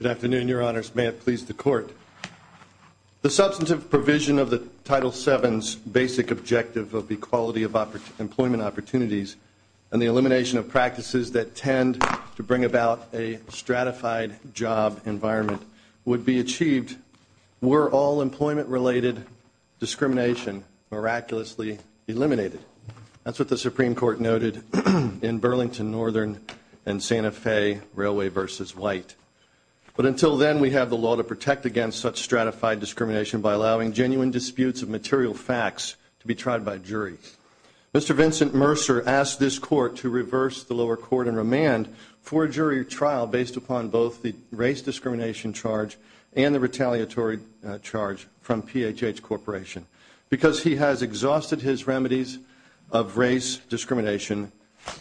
Good afternoon, Your Honors. May it please the Court. The substantive provision of the Title VII's basic objective of equality of employment opportunities and the elimination of practices that tend to bring about a stratified job environment would be achieved were all employment related discrimination miraculously eliminated. That's what the Supreme Court noted in Burlington Northern and Santa Fe Railway v. White. But until then, we have the law to protect against such stratified discrimination by allowing genuine disputes of material facts to be tried by a jury. Mr. Vincent Mercer asked this Court to reverse the lower court and remand for a jury trial based upon both the race discrimination charge and the retaliatory charge from PHH Corporation because he has exhausted his remedies of race discrimination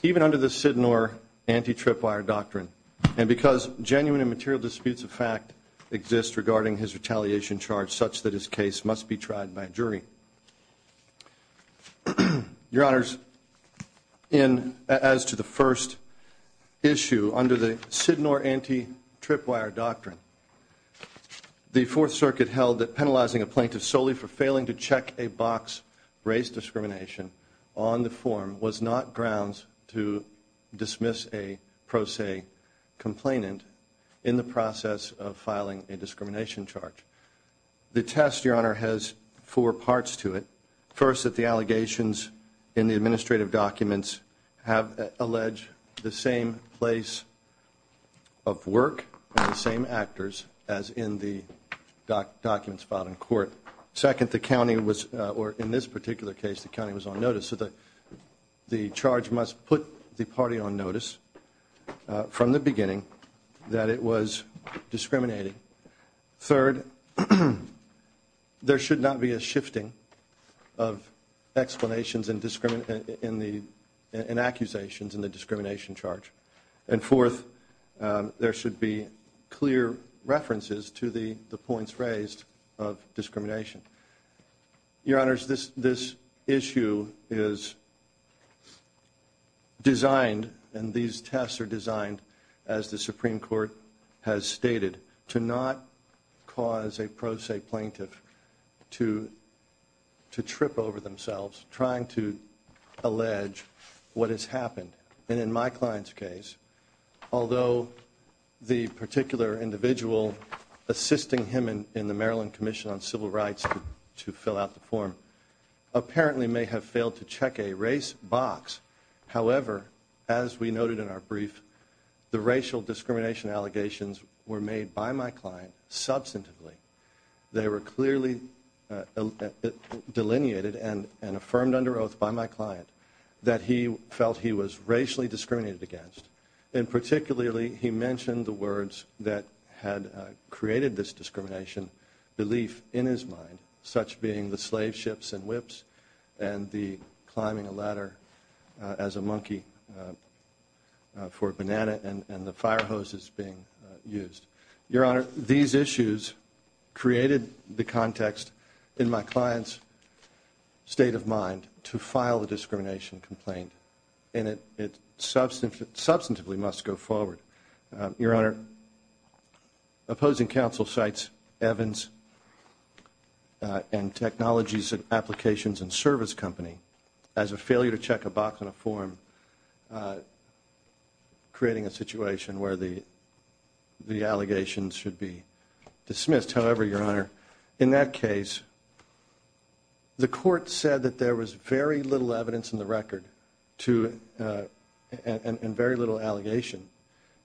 even under the Sidnor anti-tripwire doctrine and because genuine and material disputes of fact exist regarding his retaliation charge such that his case must be tried by a jury. Your Honors, as to the first issue under the Sidnor anti-tripwire doctrine, the Fourth Circuit held that penalizing a plaintiff solely for failing to check a box race discrimination on the form was not grounds to dismiss a pro se complainant in the process of filing a discrimination charge. The test, Your Honor, has four parts to it. First, that the allegations in the administrative documents have alleged the same place of work and the same actors as in the documents filed in court. Second, the county was, or in this particular case the county was on notice, so the charge must put the party on notice from the beginning that it was discriminating. Third, there should not be a shifting of explanations and accusations in the discrimination charge. And fourth, there should be clear references to the points raised of discrimination. Your Honors, this issue is designed, and these tests are designed, as the Supreme Court has stated, to not cause a pro se plaintiff to trip over themselves trying to allege what has happened. And in my client's case, although the particular individual assisting him in the Maryland Commission on Civil Rights to fill out the form apparently may have failed to check a race box, however, as we noted in our brief, the racial discrimination allegations were made by my client substantively. They were clearly delineated and affirmed under oath by my client that he felt he was racially discriminated against. And particularly, he mentioned the words that had created this discrimination, belief in his mind, such being the slave ships and whips and the climbing a ladder as a monkey for a banana and the fire hoses being used. Your Honor, these issues created the context in my client's state of mind to file a discrimination complaint, and it substantively must go forward. Your Honor, opposing counsel cites Evans and Technologies Applications and Service Company as a failure to check a box on a form, creating a situation where the allegations should be there was very little evidence in the record and very little allegation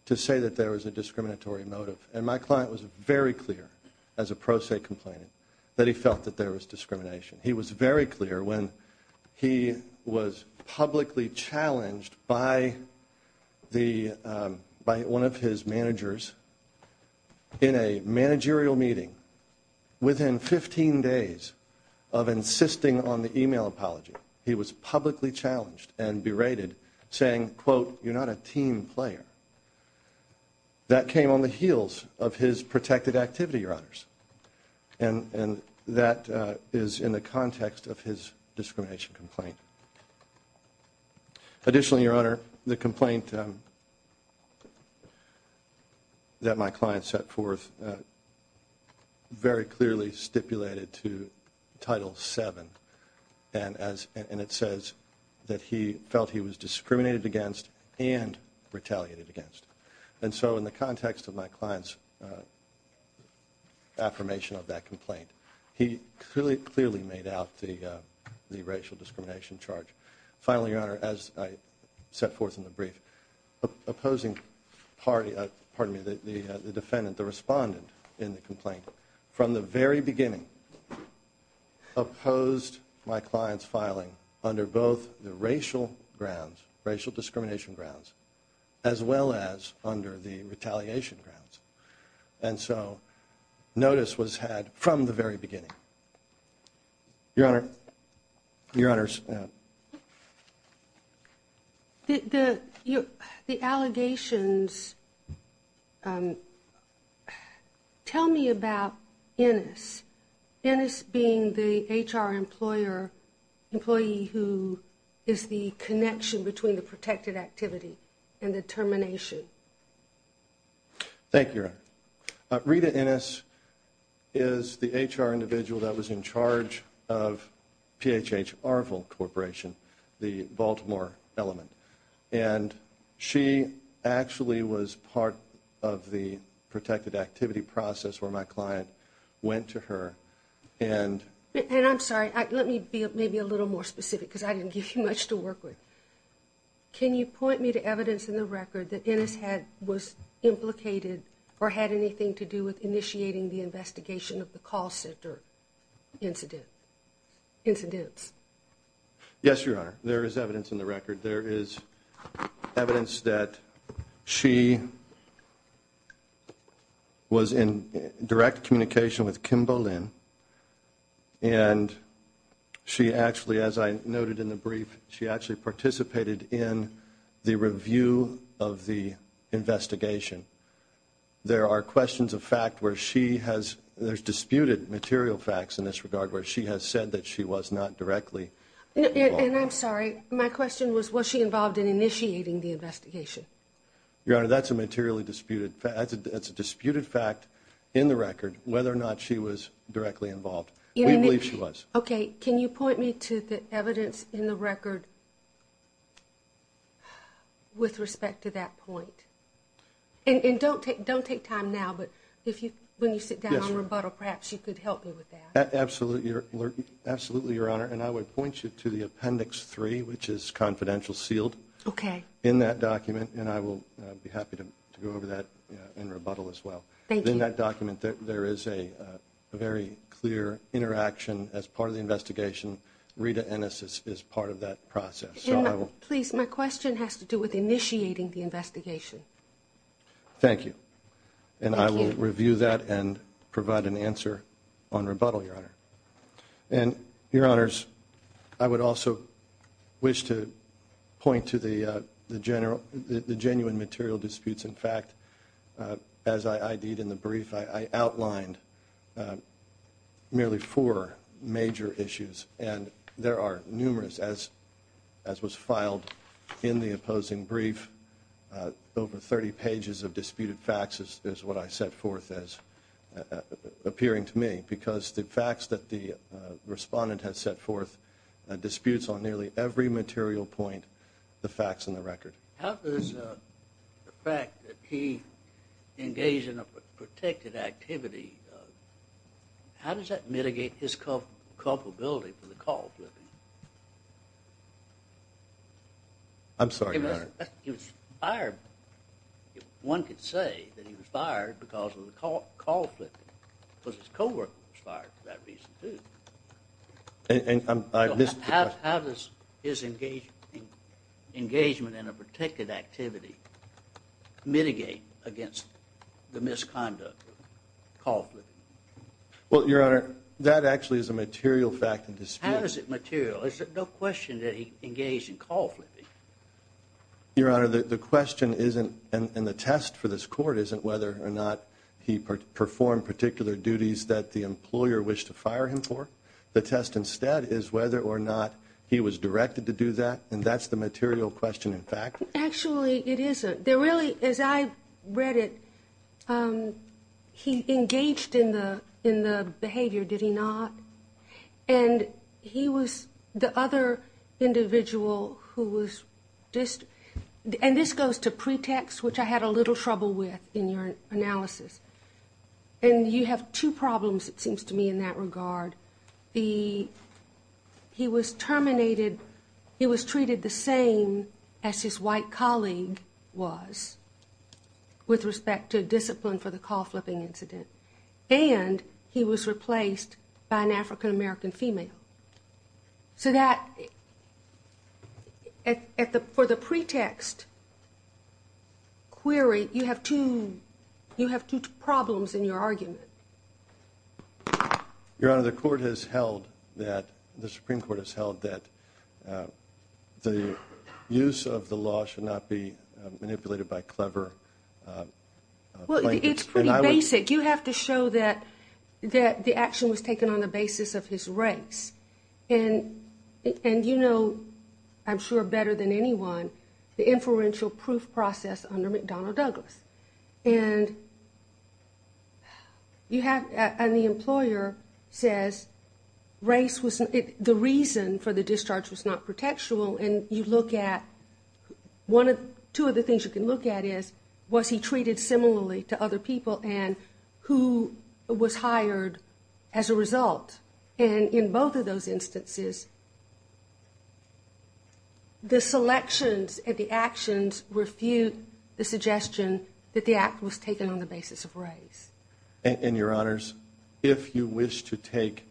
to say that there was a discriminatory motive. And my client was very clear as a pro se complainant that he felt that there was discrimination. He was very clear when he was publicly challenged by one of his managers in a managerial meeting. Within 15 days of insisting on the email apology, he was publicly challenged and berated, saying, quote, you're not a team player. That came on the heels of his protected activity, Your Honors. And that is in the context of his discrimination complaint. Additionally, Your Honor, the complaint that my client set forth very clearly stipulated to Title VII, and it says that he felt he was discriminated against and retaliated against. And so in the context of my client's affirmation of that complaint, he clearly made out the racial discrimination charge. Finally, Your Honor, as I set forth in the brief, the defendant, the respondent in the complaint, from the very beginning opposed my client's filing under both the racial grounds, racial discrimination grounds, as well as under the retaliation grounds. And so notice was had from the very beginning. Your Honor, Your Honors. The allegations, tell me about Ennis. Ennis being the HR employer, employee who is the protected activity and the termination. Thank you, Your Honor. Rita Ennis is the HR individual that was in charge of PHH Arvill Corporation, the Baltimore element. And she actually was part of the protected activity process where my client went to her and And I'm sorry, let me be maybe a little more specific because I didn't give you much to point me to evidence in the record that Ennis had was implicated or had anything to do with initiating the investigation of the call center incident. Incidents. Yes, Your Honor. There is evidence in the record. There is evidence that she was in direct communication with Kimbo Lynn. And she actually, as I noted in the brief, she the review of the investigation. There are questions of fact where she has there's disputed material facts in this regard where she has said that she was not directly. And I'm sorry, my question was, was she involved in initiating the investigation? Your Honor, that's a materially disputed fact. It's a disputed fact in the record whether or not she was directly involved. We believe she was. Okay. Can you point me to the evidence in the record with respect to that point? And don't take time now, but if you, when you sit down and rebuttal, perhaps you could help me with that. Absolutely, Your Honor. And I would point you to the appendix three, which is confidential sealed in that document. And I will be happy to go over that in rebuttal as well. Thank you. In that document, there is a very clear interaction as part of the investigation. Rita Ennis is part of that process. Please, my question has to do with initiating the investigation. Thank you. And I will review that and provide an answer on rebuttal, Your Honor. And Your Honors, I would also wish to point to the general, the genuine material disputes. In the brief, I outlined merely four major issues. And there are numerous, as was filed in the opposing brief, over 30 pages of disputed facts is what I set forth as appearing to me because the facts that the respondent has set forth disputes on nearly every material point, the facts in the record. How does the fact that he engaged in a protected activity, how does that mitigate his culpability for the call flipping? I'm sorry, Your Honor. He was fired. One could say that he was fired because of the call flipping. Because his co-worker was fired for that reason, too. I missed the question. How does his engagement in a protected activity mitigate against the misconduct of call flipping? Well, Your Honor, that actually is a material fact in dispute. How is it material? There's no question that he engaged in call flipping. Your Honor, the question isn't, and the test for this court isn't whether or not he performed particular duties that the employer wished to fire him for. The test instead is whether or not he was directed to do that, and that's the material question in fact. Actually, it isn't. There really, as I read it, he engaged in the behavior, did he not? And he was the other individual who was, and this goes to pretext, which I had a little trouble with in your analysis. And you have two problems, it seems to me, in that regard. The, he was terminated, he was treated the same as his white colleague was with respect to discipline for the call flipping incident. And he was replaced by an African-American female. So that, for the pretext query, you have two problems in your argument. Your Honor, the court has held that, the Supreme Court has held that the use of the law should not be manipulated by clever plaintiffs. Well, it's pretty basic. You have to show that the action was taken on the basis of his race. And you know, I'm sure better than anyone, the inferential proof process under McDonnell Douglas. And you have, and the employer says, race was, the reason for the discharge was not pretextual, and you look at, one of, two of the things you can look at is, was he treated similarly to other people, and who was hired as a result. And in both of those instances, the selections and the actions refute the suggestion that the act was taken on the basis of race. And Your Honors, if you wish to take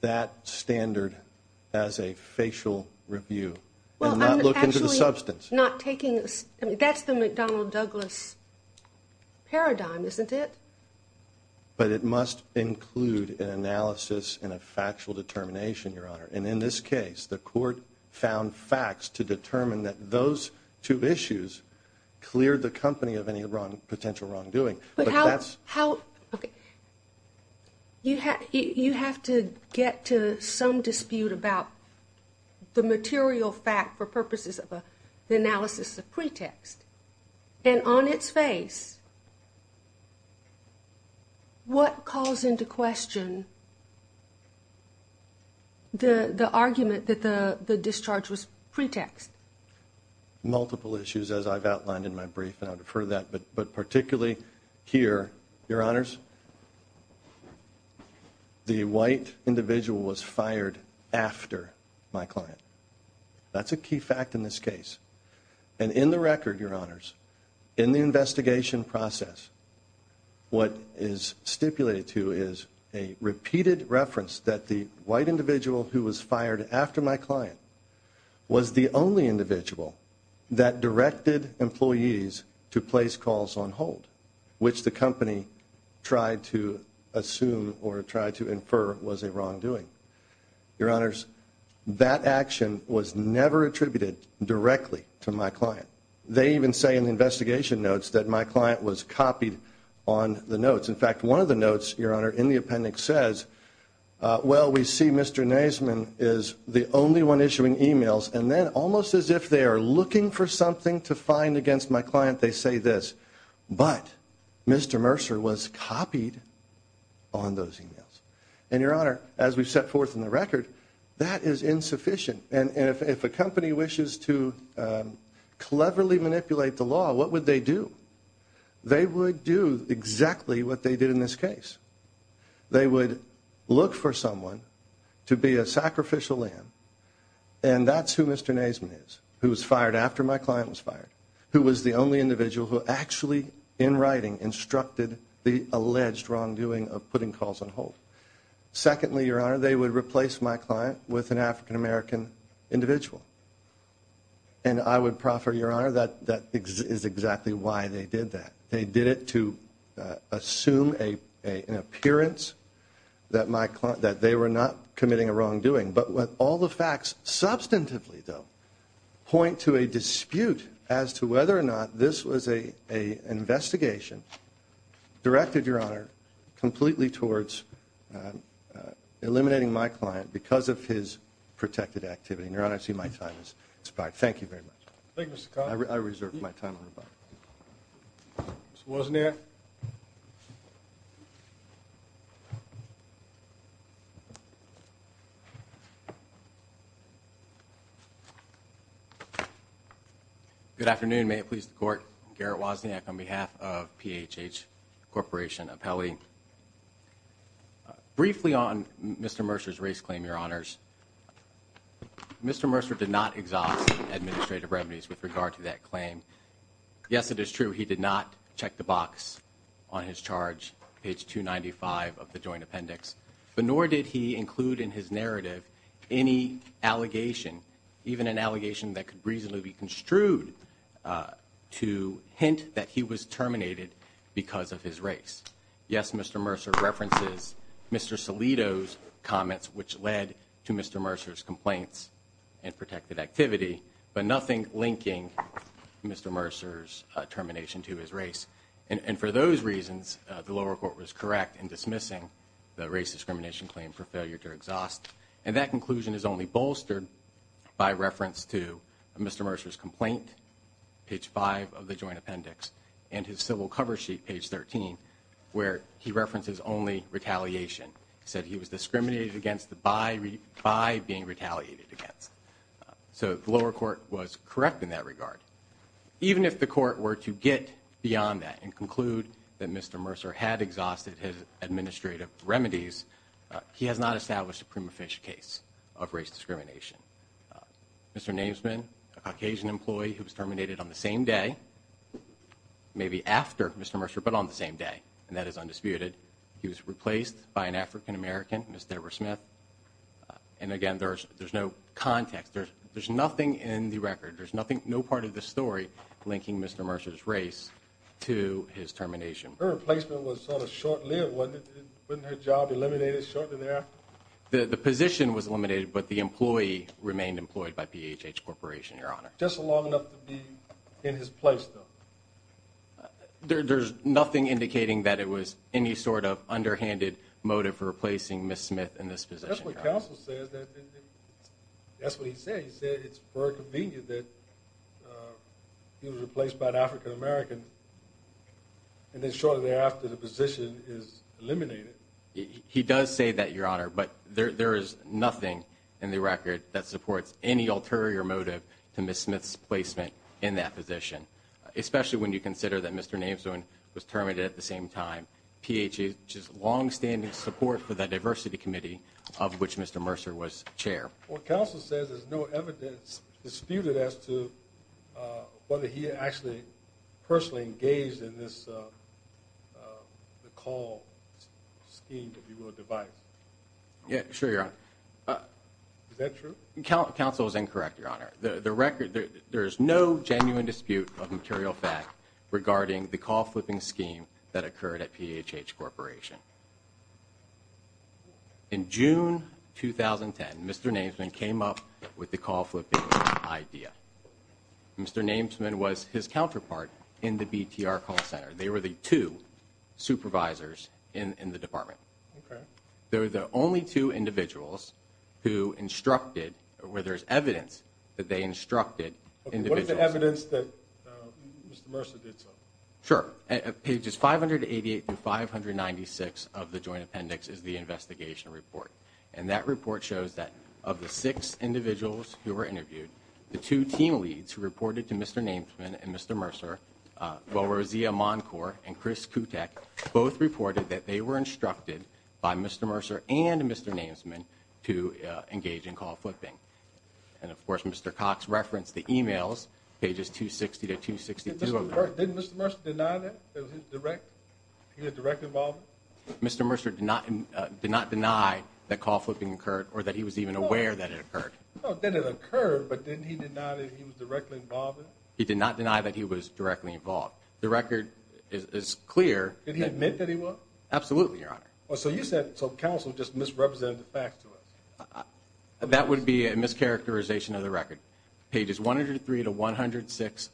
that standard as a facial review, and not look into the substance. Well, I'm actually not taking, that's the McDonnell Douglas paradigm, isn't it? But it must include an analysis and a factual determination, Your Honor. And in this case, the court found facts to determine that those two issues cleared the company of any wrong, potential wrongdoing. But how, how, okay. You have, you have to get to some dispute about the material fact for purposes of a, the analysis of pretext. And on its face, what calls into question the, the argument that the, the discharge was pretext? Multiple issues, as I've outlined in my brief, and I defer to that. But, but particularly here, Your Honors, the white individual was fired after my client. That's a key fact in this case. And in the record, Your Honors, in the investigation process, what is stipulated to is a repeated reference that the white individual who was fired after my client was the only individual that directed employees to place calls on hold, which the company tried to assume or tried to infer was a wrongdoing. Your Honors, that action was never attributed directly to my client. They even say in the investigation notes that my client was copied on the notes. In fact, one of the notes, Your Honor, in the appendix says, well, we see Mr. Naisman is the only one issuing emails and then almost as if they are looking for something to find against my client, they say this, but Mr. Mercer was copied on those emails. And Your Honor, as we've set forth in the record, that is insufficient. And, and if, if a company wishes to cleverly manipulate the law, what would they do? They would do exactly what they did in this case. They would look for someone to be a sacrificial lamb and that's who Mr. Naisman is, who was fired after my client was fired, who was the only individual who actually in writing instructed the alleged wrongdoing of putting calls on hold. Secondly, Your Honor, they would replace my client with an African American individual. And I would proffer, Your Honor, that, that is exactly why they did that. They did it to assume a, a, an appearance that my client, that they were not committing a wrongdoing. But with all the facts, substantively though, point to a dispute as to whether or not this was a, a investigation directed, Your Honor, completely towards eliminating my client because of his protected activity. And Your Honor, I see my time has expired. Thank you very much. Thank you, Mr. Connolly. I reserve my time on rebuttal. Mr. Wozniak. Good afternoon. May it please the Court. Garrett Wozniak on behalf of PHH Corporation Appellee. Briefly on Mr. Mercer's race claim, Your Honors. Mr. Mercer did not exhaust administrative remedies with regard to that claim. Yes, it is true he did not check the box on his charge, page 295 of the joint appendix, but nor did he include in his narrative any allegation, even an allegation that could reasonably be construed to hint that he was terminated because of his race. Yes, Mr. Mercer references Mr. Salito's comments, which led to Mr. Mercer's complaints and protected activity, but nothing linking Mr. Mercer's termination to his race. And for those reasons, the lower court was correct in dismissing the race discrimination claim for failure to exhaust. And that conclusion is only bolstered by reference to Mr. Mercer's complaint, page 5 of the joint appendix, and his civil cover sheet, page 13, where he references only retaliation. He said he was discriminated against by being retaliated against. So the lower court were to get beyond that and conclude that Mr. Mercer had exhausted his administrative remedies. He has not established a prima facie case of race discrimination. Mr. Namesman, a Caucasian employee who was terminated on the same day, maybe after Mr. Mercer, but on the same day, and that is undisputed, he was replaced by an African American, Ms. Deborah Smith. And again, there's no context. There's nothing in the record. There's no part of the story linking Mr. Mercer's race to his termination. Her replacement was sort of short-lived, wasn't it? Wasn't her job eliminated shortly thereafter? The position was eliminated, but the employee remained employed by PHH Corporation, Your Honor. Just long enough to be in his place, though? There's nothing indicating that it was any sort of underhanded motive for replacing Ms. Smith in this position, Your Honor. That's what he said. He said it's very convenient that he was replaced by an African American, and then shortly thereafter, the position is eliminated. He does say that, Your Honor, but there is nothing in the record that supports any ulterior motive to Ms. Smith's placement in that position, especially when you consider that Mr. Namesman was terminated at the same time. PHH's longstanding support for the Diversity Committee, of which Mr. Mercer was chair. Well, counsel says there's no evidence disputed as to whether he actually personally engaged in this call scheme, if you will, device. Yeah, sure, Your Honor. Is that true? Counsel is incorrect, Your Honor. There is no genuine dispute of material fact regarding the call flipping scheme that occurred at PHH Corporation. In June 2010, Mr. Namesman came up with the call flipping idea. Mr. Namesman was his counterpart in the BTR call center. They were the two supervisors in the department. Okay. They were the only two individuals who instructed, where there's evidence that they instructed individuals. What is the evidence that Mr. Mercer did so? Sure. Pages 588 through 596 of the joint appendix is the investigation report. And that report shows that of the six individuals who were interviewed, the two team leads who reported to Mr. Namesman and Mr. Mercer, Boazia Moncourt and Chris Kutek, both reported that they were instructed by Mr. Mercer and Mr. Namesman to engage in call flipping. And of course, Mr. Cox referenced the emails, pages 260 to 262. Didn't Mr. Mercer deny that? He was directly involved? Mr. Mercer did not deny that call flipping occurred or that he was even aware that it occurred. Then it occurred, but didn't he deny that he was directly involved? He did not deny that he was directly involved. The record is clear. Did he admit that he was? Absolutely, Your Honor. So you said, so counsel just misrepresented the facts to us? That would be a mischaracterization of the record. Pages 103 to 106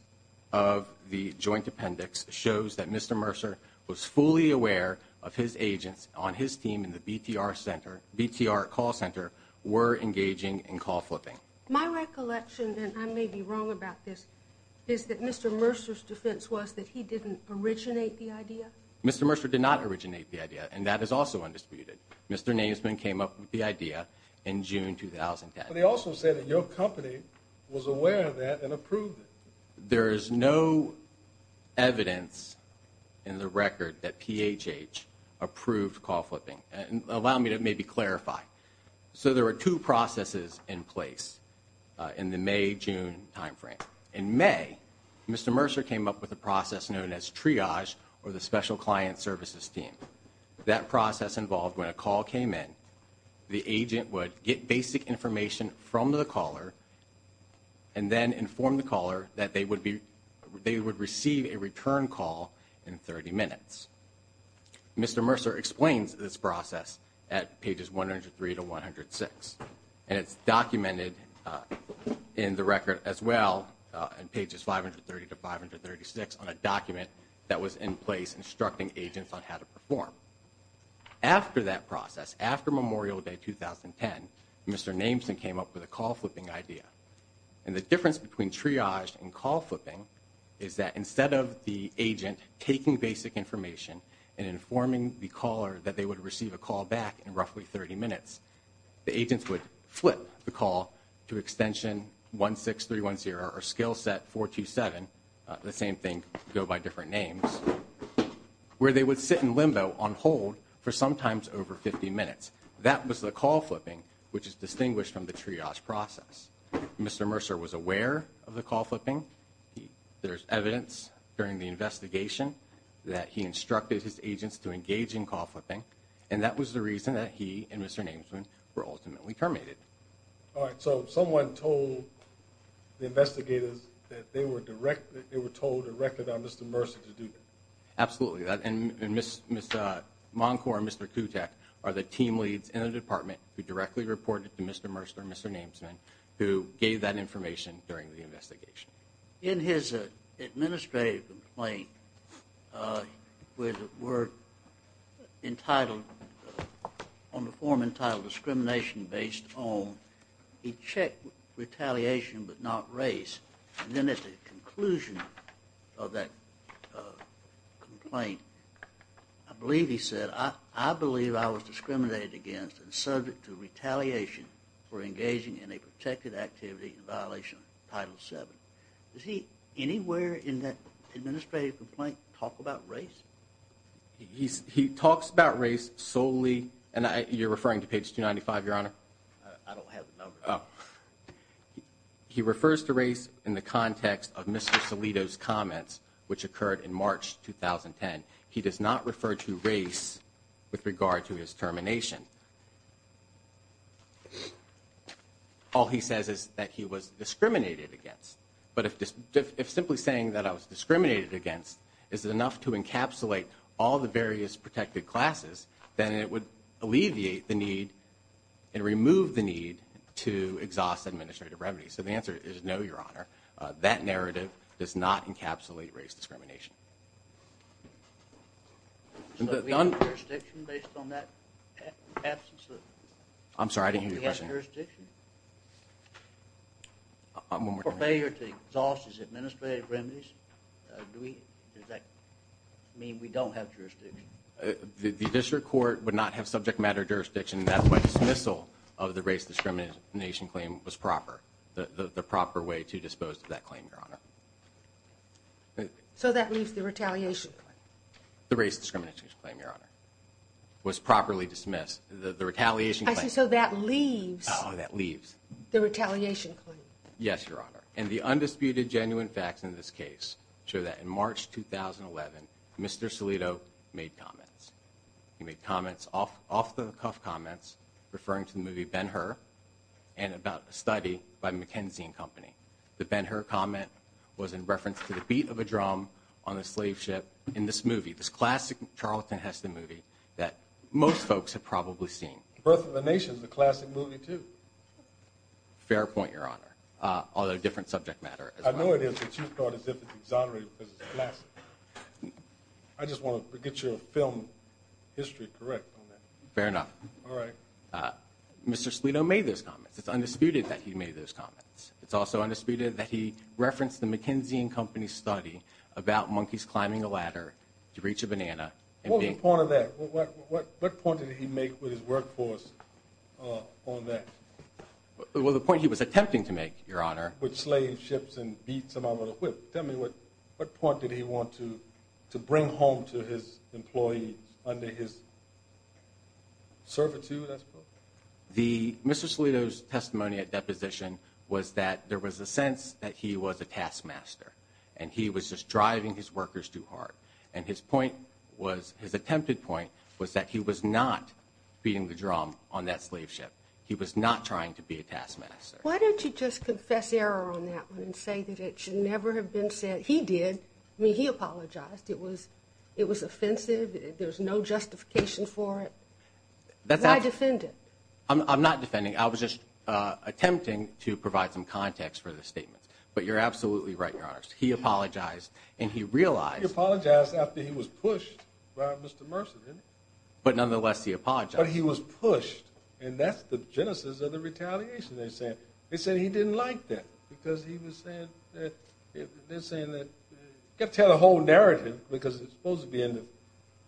of the joint appendix shows that Mr. Mercer was fully aware of his agents on his team in the BTR call center were engaging in call flipping. My recollection, and I may be wrong about this, is that Mr. Mercer's defense was that he didn't originate the idea? Mr. Mercer did not originate the idea, and that is also undisputed. Mr. Namesman came up with the idea in June 2010. But he also said that your company was aware of that and approved it. There is no evidence in the record that PHH approved call flipping. Allow me to maybe clarify. So there were two processes in place in the May-June timeframe. In May, Mr. Mercer came up with a process known as triage or the special client services team. That process involved when a call came in, the agent would get basic information from the caller and then inform the caller that they would receive a return call in 30 minutes. Mr. Mercer explains this process at pages 103 to 106. And it's documented in the record as well, in pages 530 to 536, on a document that was in place instructing agents on how to perform. After that process, after Memorial Day 2010, Mr. Namesman came up with a call flipping idea. And the difference between triage and call flipping is that instead of the agent taking basic information and informing the caller that they would receive a call back in roughly 30 minutes, the agents would flip the call to extension 16310 or skill set 427, the same thing, go by different names, where they would sit in limbo on hold for sometimes over 50 minutes. That was the call flipping, which is distinguished from the triage process. Mr. Mercer was aware of the call flipping. There's evidence during the investigation that he instructed his agents to engage in call flipping. And that was the reason that he and Mr. Namesman were ultimately terminated. All right. So someone told the investigators that they were directed, they were told directly by Mr. Mercer to do that. Absolutely. And Mr. Moncourt and Mr. Kutek are the team leads in the department who directly reported to Mr. Mercer and Mr. Namesman, who gave that information during the investigation. In his administrative complaint, where the word entitled, on the form entitled discrimination based on, he checked retaliation but not race. And then at the conclusion of that complaint, I believe he said, I believe I was discriminated against and subject to retaliation for engaging in a protected activity in violation of Title VII. Does he anywhere in that administrative complaint talk about race? He talks about race solely, and you're referring to page 295, Your Honor. I don't have the number. He refers to race in the context of Mr. Salito's comments, which occurred in March 2010. He does not refer to race with regard to his termination. All he says is that he was discriminated against. But if simply saying that I was discriminated against is enough to encapsulate all the various protected classes, then it would alleviate the need and remove the need to exhaust administrative remedies. So the answer is no, Your Honor. That narrative does not encapsulate race discrimination. So we have jurisdiction based on that absence? I'm sorry, I didn't hear your question. Do we have jurisdiction for failure to exhaust his administrative remedies? Does that mean we don't have jurisdiction? The district court would not have subject matter jurisdiction. That's why dismissal of the race discrimination claim was proper, the proper way to dispose of that claim, Your Honor. So that leaves the retaliation claim? The race discrimination claim, Your Honor, was properly dismissed. The retaliation claim. So that leaves the retaliation claim? Yes, Your Honor. And the undisputed genuine facts in this case show that in March 2011, Mr. Salito made comments. He made comments, off-the-cuff comments, referring to the movie Ben-Hur and about a study by McKenzie and Company. The Ben-Hur comment was in reference to the beat of a drum on a slave ship in this movie, this classic Charlton Heston movie that most folks have probably seen. Birth of a Nation is a classic movie, too. Fair point, Your Honor, although different subject matter. I know it is, but you thought as if it's exonerated because it's a classic. I just want to get your film history correct on that. Fair enough. All right. Mr. Salito made those comments. It's undisputed that he made those comments. It's also undisputed that he referenced the McKenzie and Company study about monkeys climbing a ladder to reach a banana. What was the point of that? What point did he make with his workforce on that? Well, the point he was attempting to make, Your Honor. With slave ships and beats them out with a whip. Tell me, what point did he want to bring home to his employees under his servitude, I suppose? Mr. Salito's testimony at deposition was that there was a sense that he was a taskmaster, and he was just driving his workers too hard. And his point was, his attempted point, was that he was not beating the drum on that slave ship. He was not trying to be a taskmaster. Why don't you just confess error on that one and say that it should never have been said? He did. I mean, he apologized. It was offensive. There's no justification for it. Why defend it? I'm not defending. I was just attempting to provide some context for the statement. But you're absolutely right, Your Honor. He apologized, and he realized. He apologized after he was pushed by Mr. Mercer, didn't he? But nonetheless, he apologized. But he was pushed, and that's the genesis of the retaliation. They said he didn't like that because he was saying that you've got to tell the whole narrative because it's supposed to be in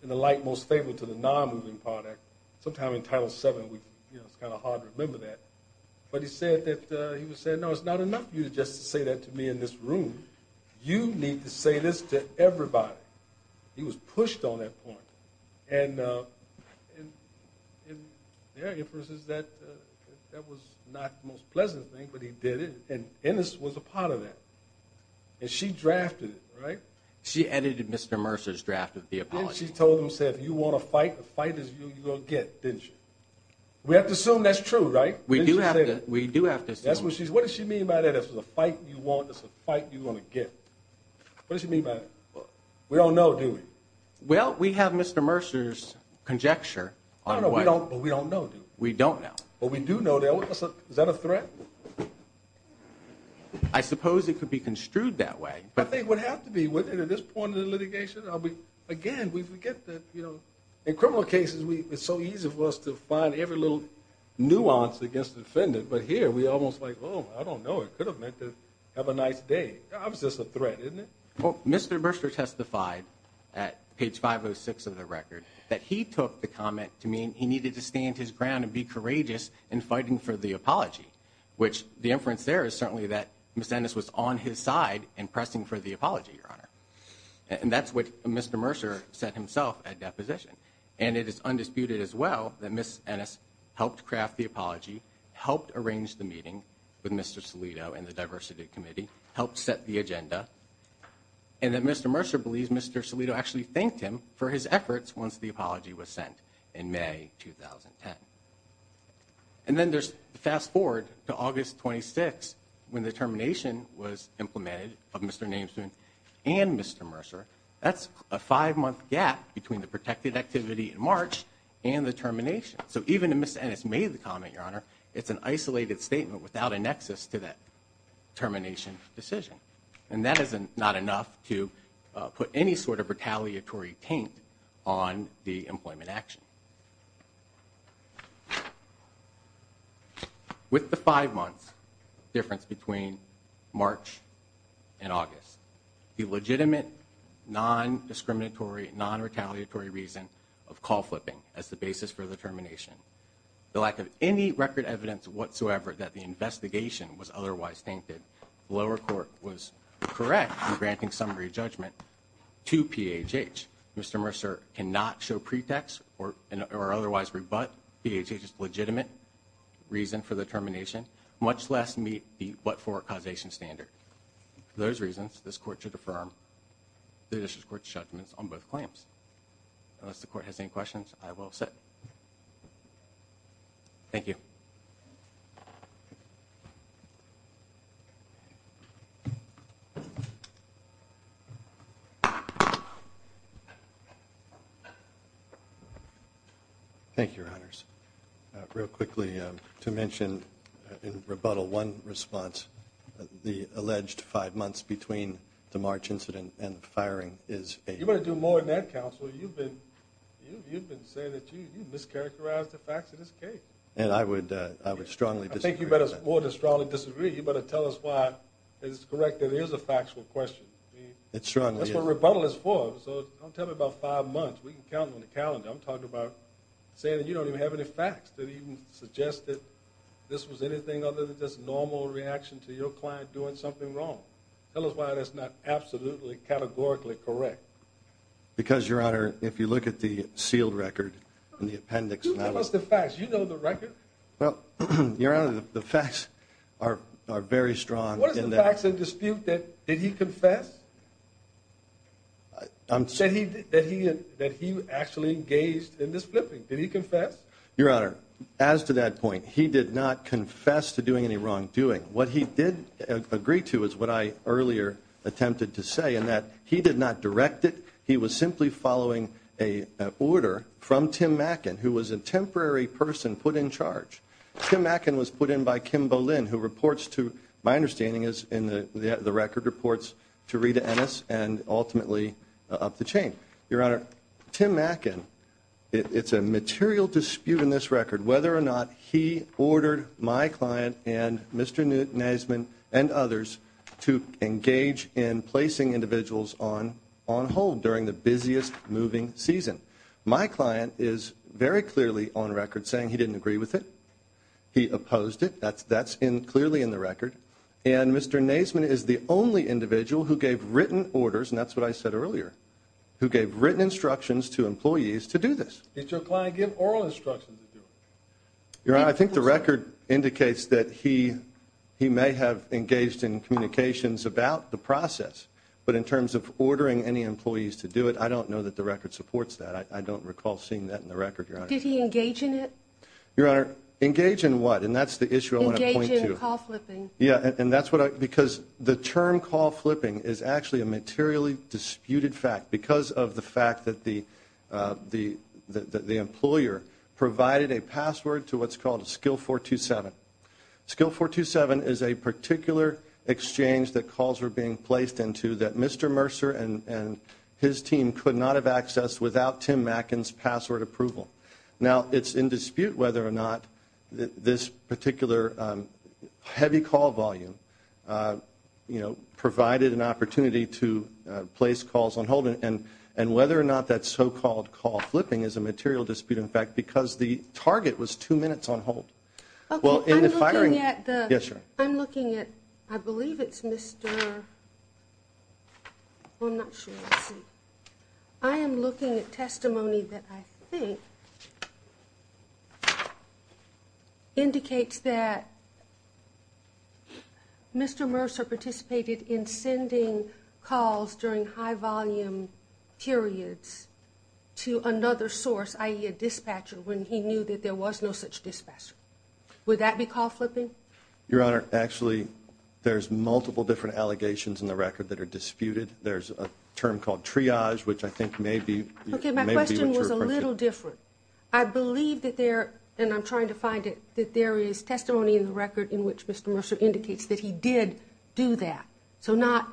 the light most favorable to the non-moving part. Sometimes in Title VII it's kind of hard to remember that. But he said, no, it's not enough for you to just say that to me in this room. You need to say this to everybody. He was pushed on that point. And there are inferences that that was not the most pleasant thing, but he did it. And Ennis was a part of that. And she drafted it, right? She edited Mr. Mercer's draft of the apology. Then she told him, said, if you want to fight, the fight is you're going to get, didn't she? We have to assume that's true, right? We do have to assume. What does she mean by that? If it's a fight you want, it's a fight you're going to get. What does she mean by that? We don't know, do we? Well, we have Mr. Mercer's conjecture. No, no, we don't, but we don't know, do we? We don't know. Well, we do know. Is that a threat? I suppose it could be construed that way. I think it would have to be, wouldn't it, at this point in the litigation? Again, we forget that in criminal cases it's so easy for us to find every little nuance against the defendant. But here we're almost like, oh, I don't know. It could have meant to have a nice day. It's just a threat, isn't it? Well, Mr. Mercer testified at page 506 of the record that he took the comment to mean he needed to stand his ground and be courageous in fighting for the apology, which the inference there is certainly that Ms. Ennis was on his side in pressing for the apology, Your Honor. And that's what Mr. Mercer said himself at deposition. And it is undisputed as well that Ms. Ennis helped craft the apology, helped arrange the meeting with Mr. Salido and the Diversity Committee, helped set the agenda, and that Mr. Mercer believes Mr. Salido actually thanked him for his efforts once the apology was sent in May 2010. And then there's fast forward to August 26 when the termination was implemented of Mr. Namesman and Mr. Mercer. That's a five-month gap between the protected activity in March and the termination. So even if Ms. Ennis made the comment, Your Honor, it's an isolated statement without a nexus to that termination decision. And that is not enough to put any sort of retaliatory taint on the employment action. With the five months difference between March and August, the legitimate, non-discriminatory, non-retaliatory reason of call flipping as the basis for the termination, the lack of any record evidence whatsoever that the investigation was otherwise tainted, the lower court was correct in granting summary judgment to PHH. Mr. Mercer cannot show pretext or otherwise rebut PHH's legitimate reason for the termination, much less meet the what-for causation standard. For those reasons, this Court should affirm the Judicial Court's judgments on both claims. Unless the Court has any questions, I will sit. Thank you. Thank you, Your Honors. Real quickly, to mention in rebuttal one response, the alleged five months between the March incident and the firing is eight. You better do more than that, Counselor. You've been saying that you've mischaracterized the facts of this case. And I would strongly disagree with that. I think you better more than strongly disagree. You better tell us why it is correct that it is a factual question. It strongly is. That's what rebuttal is for. So don't tell me about five months. We can count on the calendar. I'm talking about saying that you don't even have any facts that even suggest that this was anything other than just normal reaction to your client doing something wrong. Tell us why that's not absolutely categorically correct. Because, Your Honor, if you look at the sealed record and the appendix. You tell us the facts. You know the record. Well, Your Honor, the facts are very strong. What is the facts of dispute that he confessed? That he actually engaged in this flipping. Did he confess? Your Honor, as to that point, he did not confess to doing any wrongdoing. What he did agree to is what I earlier attempted to say in that he did not direct it. He was simply following an order from Tim Mackin, who was a temporary person put in charge. Tim Mackin was put in by Kim Bolin, who reports to my understanding is in the record reports to Rita Ennis and ultimately up the chain. Your Honor, Tim Mackin, it's a material dispute in this record whether or not he ordered my client and Mr. Neisman and others to engage in placing individuals on hold during the busiest moving season. My client is very clearly on record saying he didn't agree with it. He opposed it. That's clearly in the record. And Mr. Neisman is the only individual who gave written orders, and that's what I said earlier, who gave written instructions to employees to do this. Did your client give oral instructions to do it? Your Honor, I think the record indicates that he may have engaged in communications about the process. But in terms of ordering any employees to do it, I don't know that the record supports that. I don't recall seeing that in the record, Your Honor. Did he engage in it? Your Honor, engage in what? And that's the issue I want to point to. Engage in call flipping. Yeah, and that's what I – because the term call flipping is actually a materially disputed fact because of the fact that the employer provided a password to what's called a skill 427. Skill 427 is a particular exchange that calls are being placed into that Mr. Mercer and his team could not have accessed without Tim Macken's password approval. Now, it's in dispute whether or not this particular heavy call volume, you know, provided an opportunity to place calls on hold and whether or not that so-called call flipping is a material dispute, in fact, because the target was two minutes on hold. Well, in the firing – Okay, I'm looking at the – Yes, sir. I'm looking at – I believe it's Mr. – well, I'm not sure. Let's see. Would that be call flipping? Your Honor, actually, there's multiple different allegations in the record that are disputed. There's a term called triage, which I think may be – Okay, my question was a little different. I believe that there – and I'm trying to find it – that there is testimony in the record in which Mr. Mercer indicates that he did do that, so not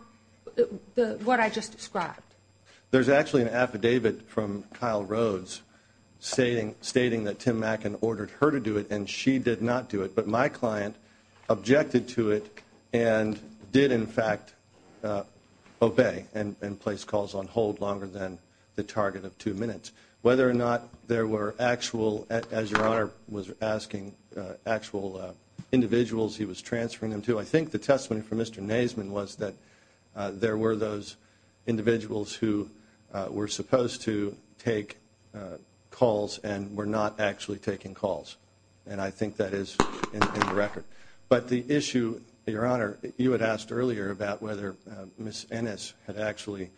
what I just described. There's actually an affidavit from Kyle Rhodes stating that Tim Macken ordered her to do it and she did not do it, but my client objected to it and did, in fact, obey and place calls on hold longer than the target of two minutes. Whether or not there were actual – as Your Honor was asking – actual individuals he was transferring them to, I think the testimony from Mr. Naseman was that there were those individuals who were supposed to take calls and were not actually taking calls, and I think that is in the record. But the issue, Your Honor – you had asked earlier about whether Ms. Ennis had actually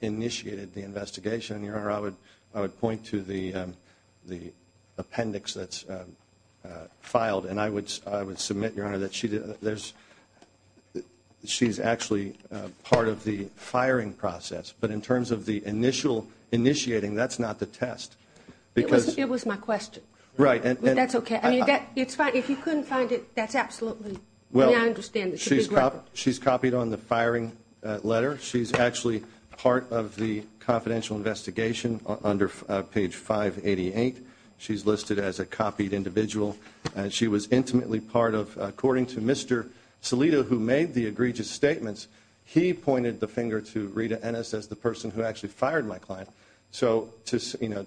initiated the investigation. Your Honor, I would point to the appendix that's filed, and I would submit, Your Honor, that she's actually part of the firing process. But in terms of the initial initiating, that's not the test. It was my question. Right. That's okay. I mean, if you couldn't find it, that's absolutely – I understand it's a big record. She's copied on the firing letter. She's actually part of the confidential investigation under page 588. She's listed as a copied individual. She was intimately part of – according to Mr. Salito, who made the egregious statements, he pointed the finger to Rita Ennis as the person who actually fired my client. So the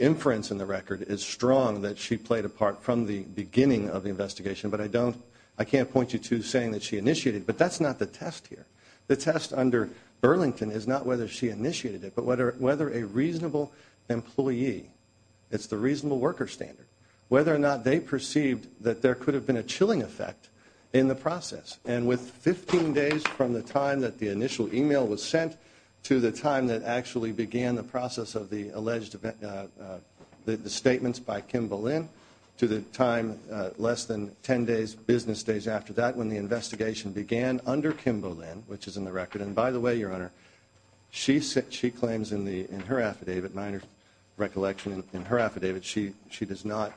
inference in the record is strong that she played a part from the beginning of the investigation, but I don't – I can't point you to saying that she initiated. But that's not the test here. The test under Burlington is not whether she initiated it, but whether a reasonable employee – it's the reasonable worker standard – whether or not they perceived that there could have been a chilling effect in the process. And with 15 days from the time that the initial email was sent to the time that actually began the process of the alleged – the statements by Kim Boleyn to the time less than 10 days, business days after that, when the investigation began under Kim Boleyn, which is in the record – and by the way, Your Honor, she claims in her affidavit, minor recollection in her affidavit, she does not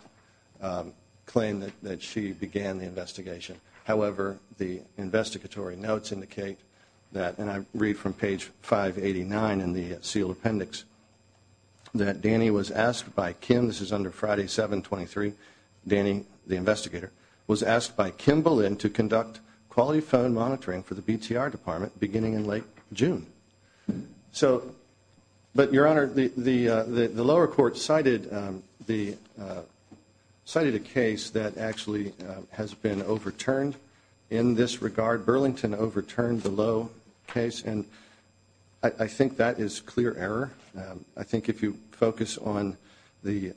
claim that she began the investigation. However, the investigatory notes indicate that – and I read from page 589 in the sealed appendix – that Danny was asked by Kim – this is under Friday, 7-23 – Danny, the investigator, was asked by Kim Boleyn to conduct quality phone monitoring for the BTR Department beginning in late June. So – but, Your Honor, the lower court cited a case that actually has been overturned in this regard. Burlington overturned the Lowe case, and I think that is clear error. I think if you focus on the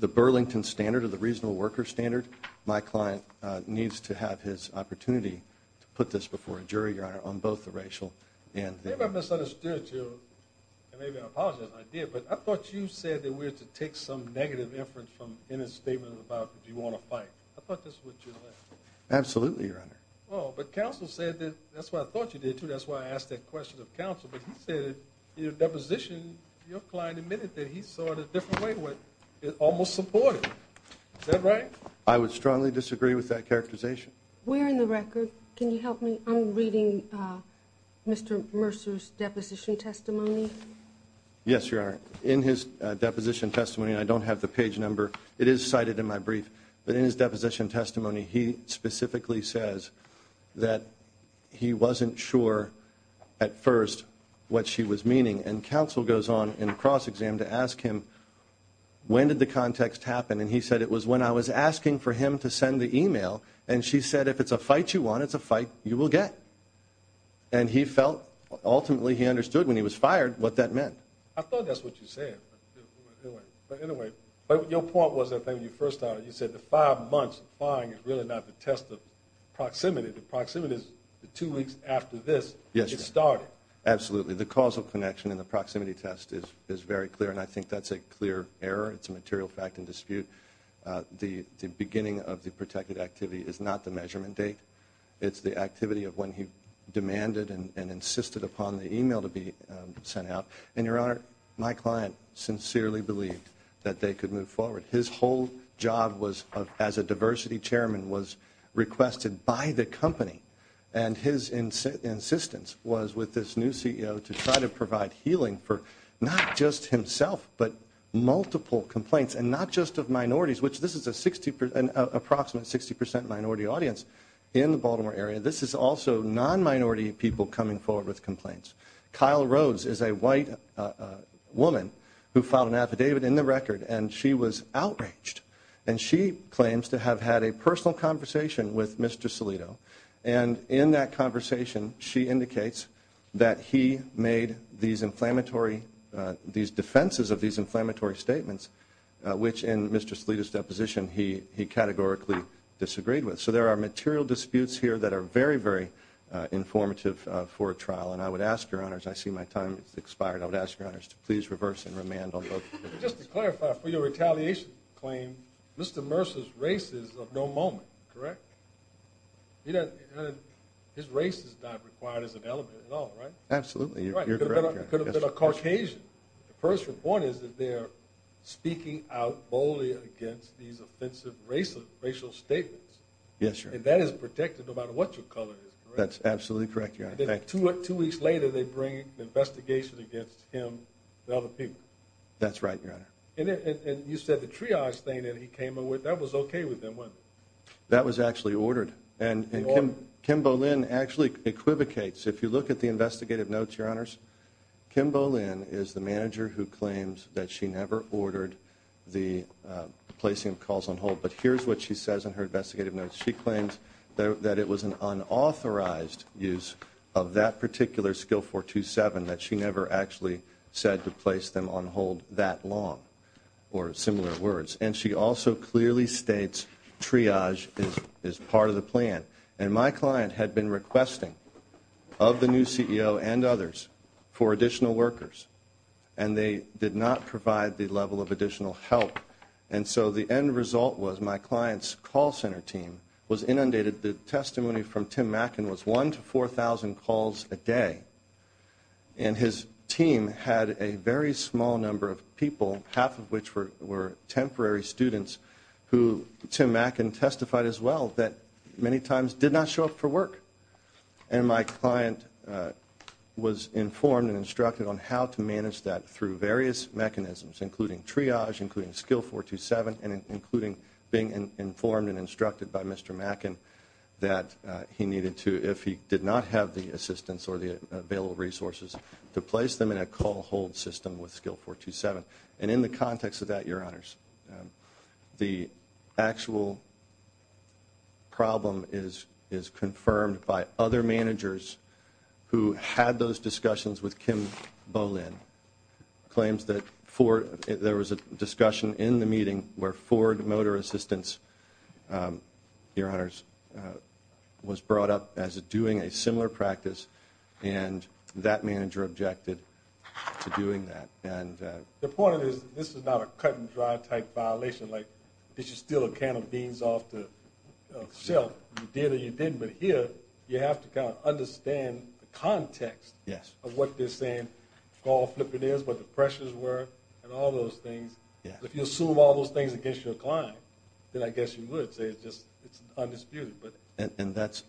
Burlington standard or the reasonable worker standard, my client needs to have his opportunity to put this before a jury, Your Honor, on both the racial and the – Maybe I misunderstood you, and maybe I apologize, and I did, but I thought you said that we had to take some negative inference from in his statement about do you want to fight. I thought this was what you meant. Absolutely, Your Honor. Oh, but counsel said that – that's what I thought you did, too. That's why I asked that question of counsel, but he said in your deposition, your client admitted that he saw it a different way, almost supportive. Is that right? I would strongly disagree with that characterization. We're in the record. Can you help me? I'm reading Mr. Mercer's deposition testimony. Yes, Your Honor. In his deposition testimony – and I don't have the page number, it is cited in my brief – but in his deposition testimony, he specifically says that he wasn't sure at first what she was meaning, and counsel goes on in cross-exam to ask him, when did the context happen? And he said, it was when I was asking for him to send the email, and she said, if it's a fight you want, it's a fight you will get. And he felt – ultimately, he understood when he was fired what that meant. I thought that's what you said. But anyway, your point was, I think, when you first started, you said the five months of firing is really not the test of proximity. The proximity is the two weeks after this, it started. Absolutely. The causal connection in the proximity test is very clear, and I think that's a clear error. It's a material fact and dispute. The beginning of the protected activity is not the measurement date. It's the activity of when he demanded and insisted upon the email to be sent out. And, Your Honor, my client sincerely believed that they could move forward. His whole job as a diversity chairman was requested by the company, and his insistence was with this new CEO to try to provide healing for not just himself but multiple complaints and not just of minorities, which this is an approximate 60 percent minority audience in the Baltimore area. This is also non-minority people coming forward with complaints. Kyle Rhodes is a white woman who filed an affidavit in the record, and she was outraged, and she claims to have had a personal conversation with Mr. Salito, and in that conversation she indicates that he made these defenses of these inflammatory statements, which in Mr. Salito's deposition he categorically disagreed with. So there are material disputes here that are very, very informative for a trial, and I would ask, Your Honor, as I see my time has expired, I would ask, Your Honor, to please reverse and remand on both cases. Just to clarify, for your retaliation claim, Mr. Mercer's race is of no moment, correct? His race is not required as an element at all, right? Absolutely. You're correct, Your Honor. It could have been a Caucasian. The first point is that they are speaking out boldly against these offensive racial statements. Yes, Your Honor. And that is protected no matter what your color is, correct? That's absolutely correct, Your Honor. Two weeks later they bring an investigation against him and other people. That's right, Your Honor. And you said the triage thing that he came up with, that was okay with them, wasn't it? That was actually ordered, and Kim Boleyn actually equivocates. If you look at the investigative notes, Your Honors, Kim Boleyn is the manager who claims that she never ordered the placing of calls on hold, but here's what she says in her investigative notes. She claims that it was an unauthorized use of that particular skill 427, that she never actually said to place them on hold that long, or similar words. And she also clearly states triage is part of the plan. And my client had been requesting, of the new CEO and others, for additional workers, and they did not provide the level of additional help. And so the end result was my client's call center team was inundated. The testimony from Tim Mackin was 1 to 4,000 calls a day. And his team had a very small number of people, half of which were temporary students, who Tim Mackin testified as well that many times did not show up for work. And my client was informed and instructed on how to manage that through various mechanisms, including triage, including skill 427, and including being informed and instructed by Mr. Mackin that he needed to, if he did not have the assistance or the available resources, to place them in a call hold system with skill 427. And in the context of that, Your Honors, the actual problem is confirmed by other managers who had those discussions with Kim Boleyn, who claims that there was a discussion in the meeting where Ford Motor Assistance, Your Honors, was brought up as doing a similar practice, and that manager objected to doing that. The point is this is not a cut-and-dry type violation. Like this is still a can of beans off the shelf. You did or you didn't. But here you have to kind of understand the context of what they're saying, what the pressures were, and all those things. If you assume all those things against your client, then I guess you would say it's undisputed. And that's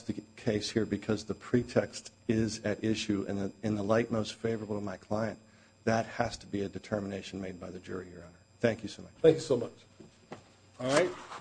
the case here because the pretext is at issue. And in the light most favorable of my client, that has to be a determination made by the jury, Your Honor. Thank you so much. Thank you so much. All right.